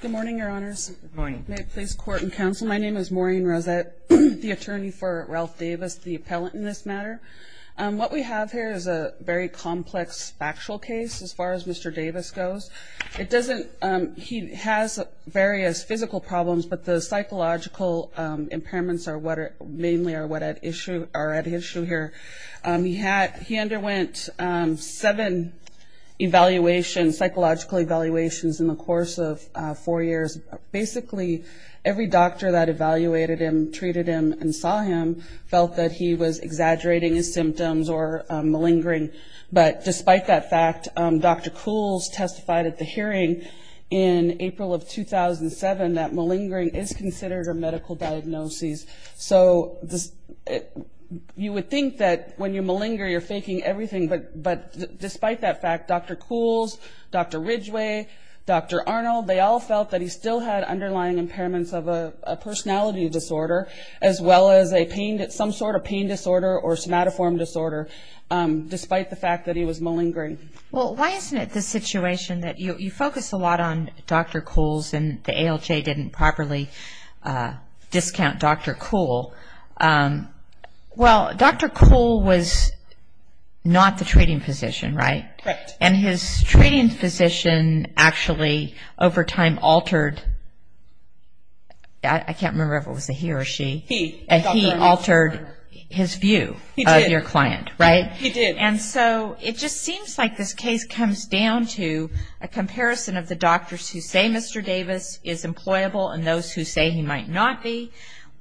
Good morning your honors. May it please court and counsel my name is Maureen Rosette the attorney for Ralph Davis the appellant in this matter. What we have here is a very complex factual case as far as Mr. Davis goes. It doesn't he has various physical problems but the psychological impairments are what are mainly are what at issue are at issue here. He had he underwent seven evaluations, psychological evaluations in the course of four years. Basically every doctor that evaluated him treated him and saw him felt that he was exaggerating his symptoms or malingering but despite that fact Dr. Coole's testified at the hearing in April of 2007 that malingering is considered a medical diagnosis. So this you would think that when you malinger you're that fact Dr. Coole's, Dr. Ridgway, Dr. Arnold they all felt that he still had underlying impairments of a personality disorder as well as a pain that some sort of pain disorder or somatoform disorder despite the fact that he was malingering. Well why isn't it the situation that you focus a lot on Dr. Coole's and the ALJ didn't properly discount Dr. Coole. Well Dr. Coole was not the treating physician right? Correct. And his treating physician actually over time altered, I can't remember if it was a he or she, he altered his view of your client right? He did. And so it just seems like this case comes down to a comparison of the doctors who say Mr. Davis is employable and those who say he might not be.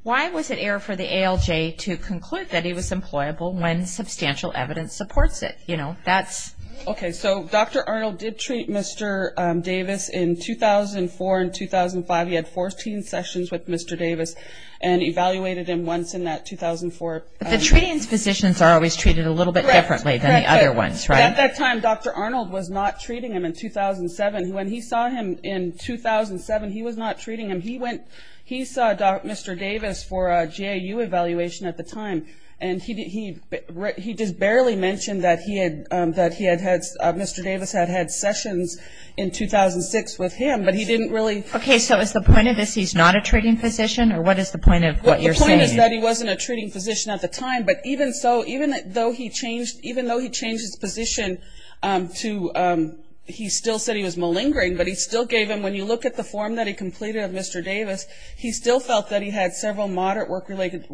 Why was it error for the ALJ to conclude that he was employable when substantial evidence supports it? You know that's. Okay so Dr. Arnold did treat Mr. Davis in 2004 and 2005. He had 14 sessions with Mr. Davis and evaluated him once in that 2004. But the treating physicians are always treated a little bit differently than the other ones right? At that time Dr. Arnold was not treating him in 2007. When he saw him in 2007 he was not treating him. He went, he saw Dr. Davis for a GAU evaluation at the time and he just barely mentioned that he had, that he had had, Mr. Davis had had sessions in 2006 with him but he didn't really. Okay so is the point of this he's not a treating physician or what is the point of what you're saying? The point is that he wasn't a treating physician at the time but even so, even though he changed, even though he changed his position to, he still said he was malingering but he still gave him, when you look at the form that he completed of Mr. Davis, he still felt that he had several moderate work-related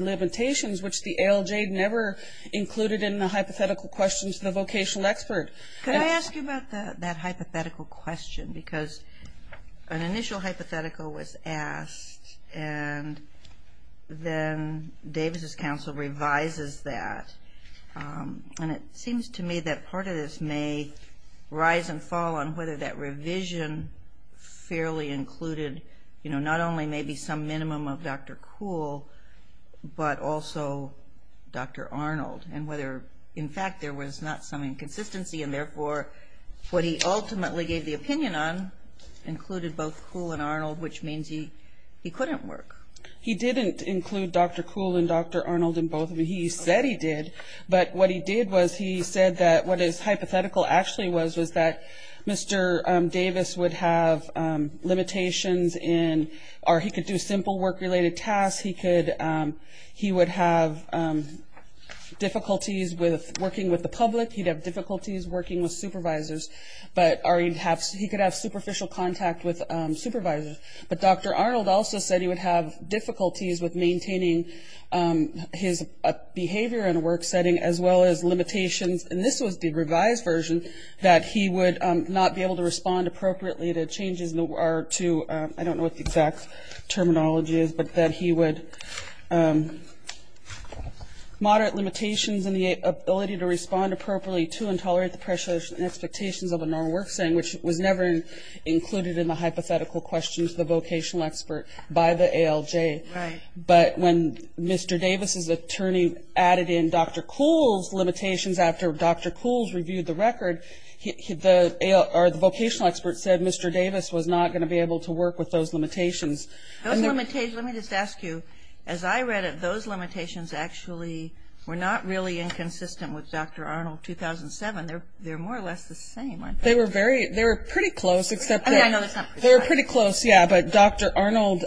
limitations which the ALJ never included in the hypothetical questions to the vocational expert. Can I ask you about that hypothetical question because an initial hypothetical was asked and then Davis's counsel revises that and it seems to me that part of this may rise and fall on whether that revision fairly included, you know, not only maybe some minimum of Dr. Kuhl but also Dr. Arnold and whether in fact there was not some inconsistency and therefore what he ultimately gave the opinion on included both Kuhl and Arnold which means he, he couldn't work. He didn't include Dr. Kuhl and Dr. Arnold in both, he said he did but what he did was he said that what his hypothetical actually was was that Mr. Davis would have limitations in or he could do simple work-related tasks, he could, he would have difficulties with working with the public, he'd have difficulties working with supervisors but or he'd have, he could have superficial contact with supervisors but Dr. Arnold also said he would have difficulties with maintaining his behavior in a work setting as well as limitations and this was the revised version that he would not be able to respond appropriately to changes in the ARR to, I don't know what the exact terminology is but that he would moderate limitations in the ability to respond appropriately to and tolerate the pressures and expectations of a normal work setting which was never included in the hypothetical questions the vocational expert by the ALJ but when Mr. Davis's attorney added in Dr. Kuhl's limitations after Dr. Kuhl's reviewed the record, he, the AL, or the vocational expert said Mr. Davis was not going to be able to work with those limitations. Those limitations, let me just ask you, as I read it, those limitations actually were not really inconsistent with Dr. Arnold 2007, they're, they're more or less the same aren't they? They were very, they were pretty close except that, they were pretty close yeah but Dr. Arnold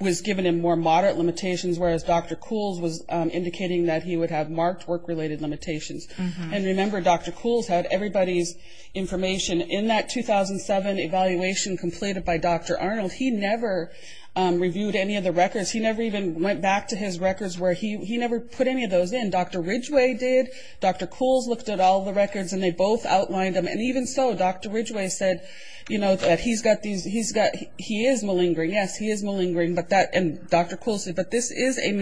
was given him more moderate limitations whereas Dr. Kuhl's was indicating that he would have marked work-related limitations and remember Dr. Kuhl's had everybody's information in that 2007 evaluation completed by Dr. Arnold, he never reviewed any of the records, he never even went back to his records where he, he never put any of those in. Dr. Ridgway did, Dr. Kuhl's looked at all the records and they both outlined them and even so Dr. Ridgway said you know that he's got these, he's got, he is malingering, yes he is malingering but that, and Dr. Kuhl said but this is a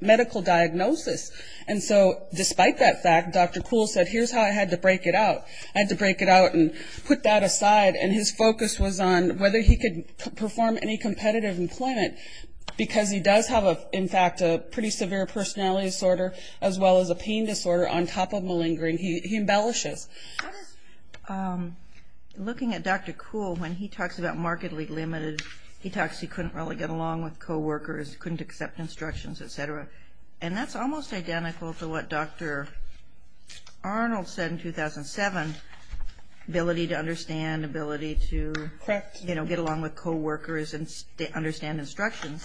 medical diagnosis and so despite that fact Dr. Kuhl said here's how I had to break it out, I had to break it out and put that aside and his focus was on whether he could perform any competitive employment because he does have a in fact a pretty severe personality disorder as well as a pain disorder on top of malingering, he embellishes. Looking at Dr. Kuhl when he talks about markedly limited, he talks he couldn't really get along with co-workers, couldn't accept instructions etc. and that's almost identical to what Dr. Arnold said in 2007, ability to understand, ability to you know get along with co-workers and understand instructions.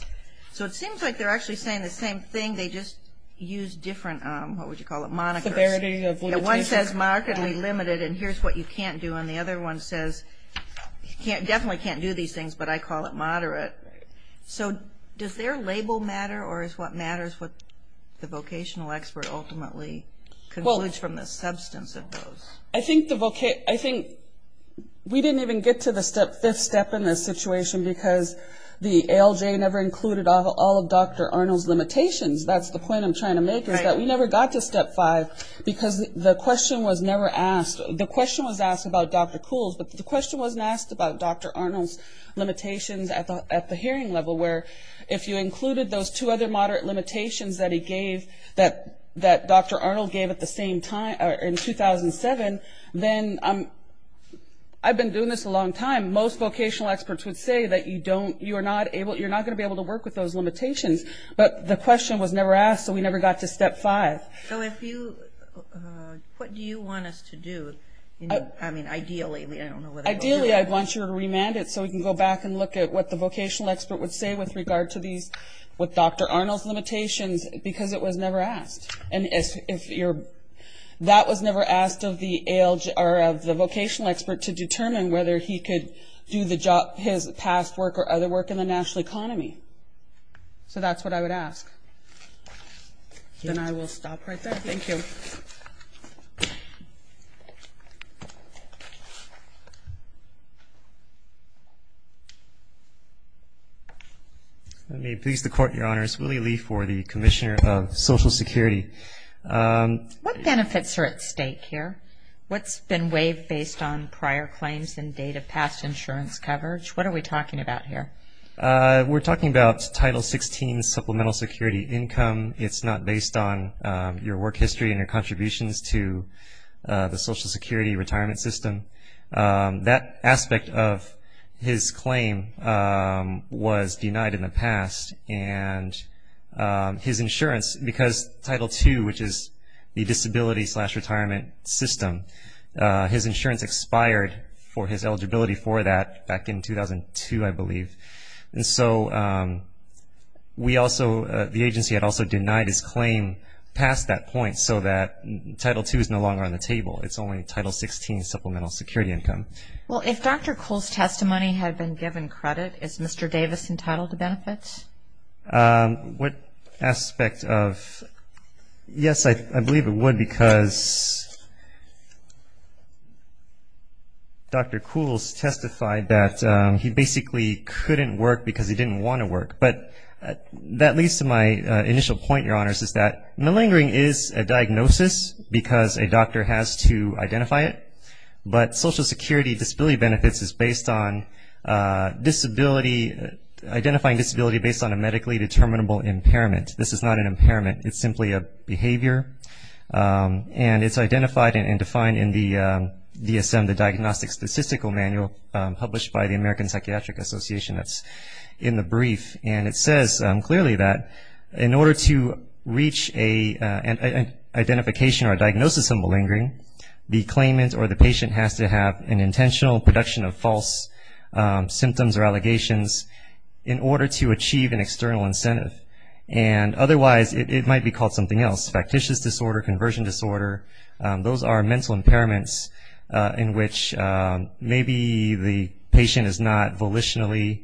So it seems like they're actually saying the same thing they just use different what would you call it monikers. One says markedly limited and here's what you can't do and the other one says you can't definitely can't do these things but I call it moderate. So does their label matter or is what matters what the vocational expert ultimately concludes from the substance of those? I think we didn't even get to the step fifth step in this situation because the ALJ never included all of Dr. Arnold's limitations, that's the point I'm trying to make is that we never got to step five because the question was never asked, the question was asked about Dr. Kuhl's but the question wasn't asked about Dr. Arnold's limitations at the hearing level where if you included those two other moderate limitations that he gave that that Dr. Arnold gave at the same time in 2007 then I'm I've been doing this a long time most vocational experts would say that you don't you are not able you're not gonna be able to work with those limitations but the question was never asked so we never got to step five. So if you what do you want us to do I mean ideally ideally I'd want you to remand it so we can go back and look at what the vocational expert would say with regard to these with Dr. Arnold's limitations because it was never asked and if you're that was never asked of the ALJ or of the vocational expert to determine whether he could do the job his past work or other work in the national economy. So that's what I would ask and I will stop right there thank you. Let me please the court your honors Willie Lee for the Commissioner of Social Security. What benefits are at stake here? What's been waived based on prior claims and date of past insurance coverage? What are we talking about here? We're talking about title 16 supplemental security income it's not based on your work history and your contributions to the Social Security retirement system. That in the past and his insurance because title 2 which is the disability slash retirement system his insurance expired for his eligibility for that back in 2002 I believe and so we also the agency had also denied his claim past that point so that title 2 is no longer on the table it's only title 16 supplemental security income. Well if Dr. Cole's testimony had been given credit it's Mr. Davis entitled to benefits? What aspect of yes I believe it would because Dr. Coole's testified that he basically couldn't work because he didn't want to work but that leads to my initial point your honors is that malingering is a diagnosis because a doctor has to identify it but Social Identifying disability based on a medically determinable impairment this is not an impairment it's simply a behavior and it's identified and defined in the DSM the diagnostic statistical manual published by the American Psychiatric Association that's in the brief and it says clearly that in order to reach a identification or diagnosis of malingering the claimant or the patient has to have an intentional production of false symptoms or allegations in order to achieve an external incentive and otherwise it might be called something else factitious disorder conversion disorder those are mental impairments in which maybe the patient is not volitionally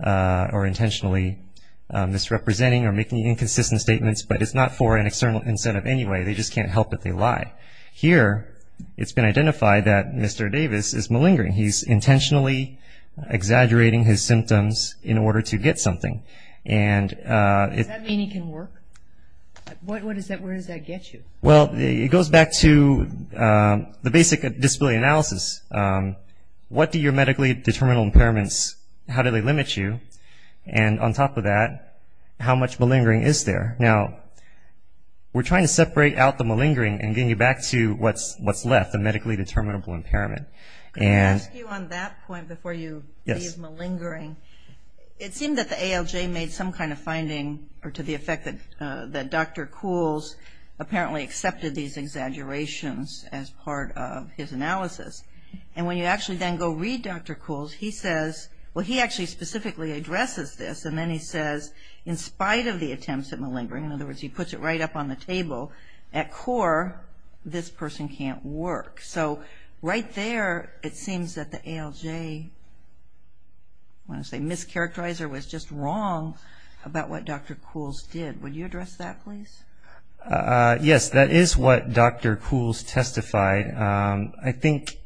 or intentionally misrepresenting or making inconsistent statements but it's not for an external incentive anyway they just can't help it they lie here it's been his symptoms in order to get something and it can work what what is that where does that get you well it goes back to the basic disability analysis what do your medically determinable impairments how do they limit you and on top of that how much malingering is there now we're trying to separate out the malingering and getting you back to what's what's left the medically determinable impairment and you on that point before you yes malingering it seemed that the ALJ made some kind of finding or to the effect that that dr. Coole's apparently accepted these exaggerations as part of his analysis and when you actually then go read dr. Coole's he says well he actually specifically addresses this and then he says in spite of the attempts at malingering in other words he puts it right up on the table at core this person can't work so right there it seems that the ALJ when I say mischaracterizer was just wrong about what dr. Coole's did would you address that please yes that is what dr. Coole's testified I think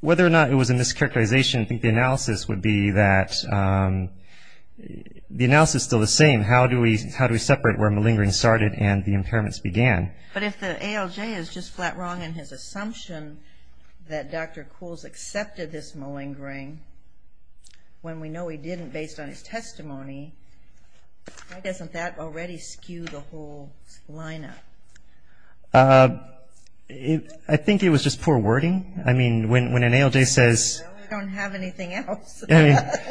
whether or not it was in this characterization I think the analysis would be that the analysis still the same how do we how do we separate where malingering started and the impairments began but if the ALJ is just flat wrong in his assumption that dr. Coole's accepted this malingering when we know he didn't based on his testimony doesn't that already skew the whole lineup I think it was just poor wording I mean when an ALJ says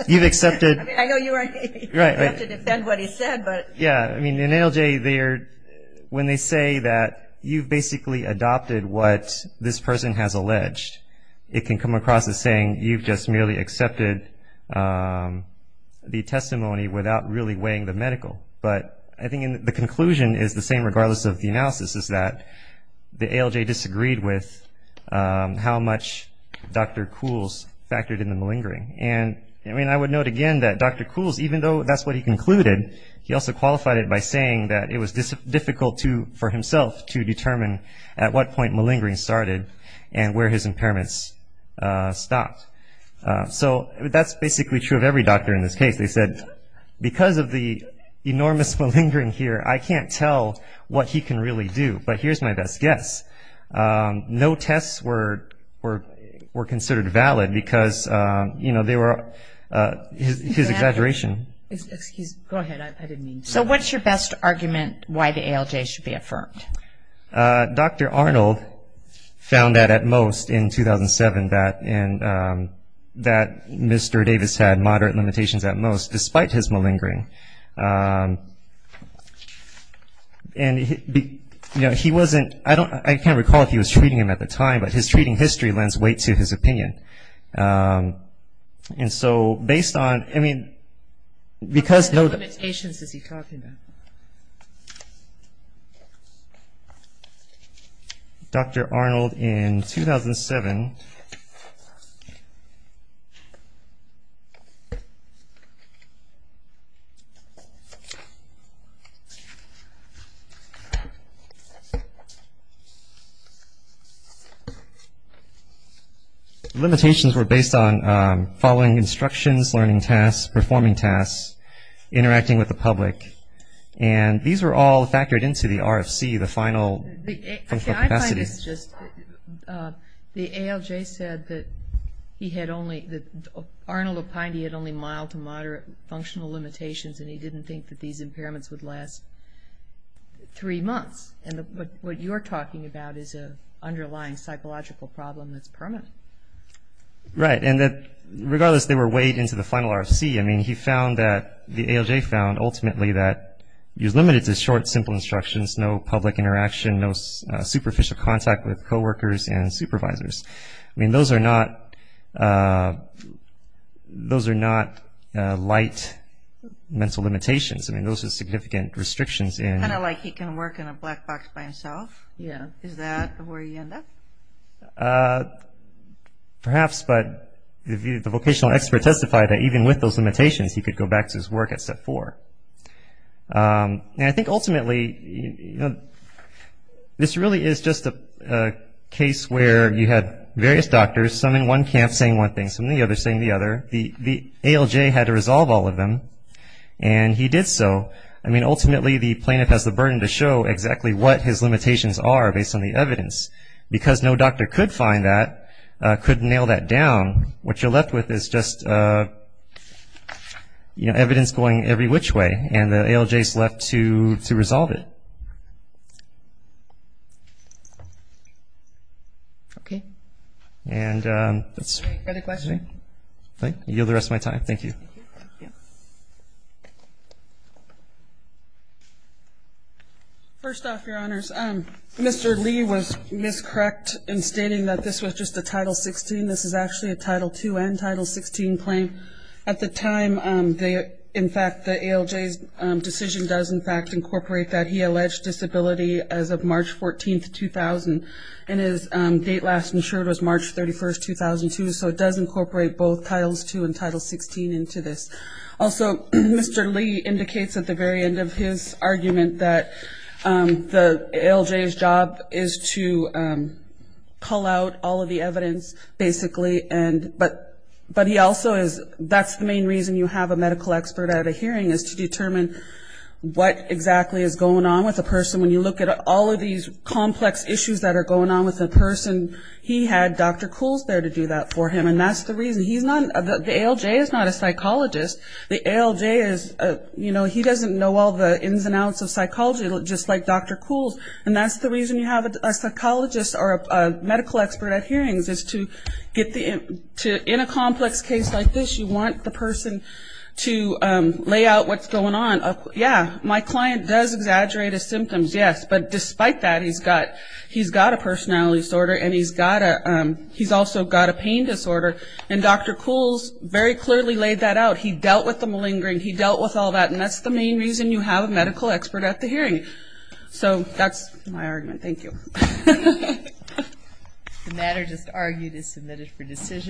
you've accepted what this person has alleged it can come across as saying you've just merely accepted the testimony without really weighing the medical but I think in the conclusion is the same regardless of the analysis is that the ALJ disagreed with how much dr. Coole's factored in the malingering and I mean I would note again that dr. Coole's even though that's what he concluded he also qualified it by saying that it was difficult to for himself to determine at what point malingering started and where his impairments stopped so that's basically true of every doctor in this case they said because of the enormous malingering here I can't tell what he can really do but here's my best guess no tests were were were considered valid because you know they were his exaggeration so what's your best argument why the ALJ should be affirmed dr. Arnold found that at most in 2007 that and that mr. Davis had moderate limitations at most despite his malingering and you know he wasn't I can't recall if he was treating him at the time but his treating history lends weight to his opinion and so based on I mean because no limitations is he talking about dr. Arnold in 2007 the limitations were based on following instructions learning tasks performing tasks interacting with the public and these were all factored into the RFC the final the ALJ said that he had only that Arnold opined he had only mild to moderate functional limitations and he didn't think that these impairments would last three months and what you're talking about is a underlying psychological problem that's permanent right and that regardless they were weighed into the final RFC I mean he found that the ALJ found ultimately that he was limited to short simple instructions no public interaction no superficial contact with co-workers and supervisors I mean those are not those significant restrictions in perhaps but the vocational expert testified that even with those limitations he could go back to his work at step four and I think ultimately this really is just a case where you had various doctors some in one camp saying one thing from the other saying the other the ALJ had to so I mean ultimately the plaintiff has the burden to show exactly what his limitations are based on the evidence because no doctor could find that could nail that down what you're left with is just you know evidence going every which way and the ALJ is left to to resolve it okay and that's the question thank you the rest of my time thank you first off your honors um mr. Lee was miscorrect in stating that this was just a title 16 this is actually a title 2 and title 16 claim at the time they in fact the ALJ decision does in fact incorporate that he alleged disability as of March 14th 2000 and his date last insured was March 31st 2002 so it does incorporate both titles 2 and title 16 into this also mr. Lee indicates at the very end of his argument that the ALJ's job is to pull out all of the evidence basically and but but he also is that's the main reason you have a medical expert at a hearing is to determine what exactly is going on with a person when you look at all of these complex issues that are going on with a person he had dr. Coole's there to do that for him and that's the reason he's not the ALJ is not a psychologist the ALJ is you know he doesn't know all the ins and outs of psychology just like dr. Coole's and that's the reason you have a psychologist or a medical expert at hearings is to get the in to in a yeah my client does exaggerate his symptoms yes but despite that he's got he's got a personality disorder and he's got a he's also got a pain disorder and dr. Coole's very clearly laid that out he dealt with the malingering he dealt with all that and that's the main reason you have a medical expert at the hearing so that's my argument thank you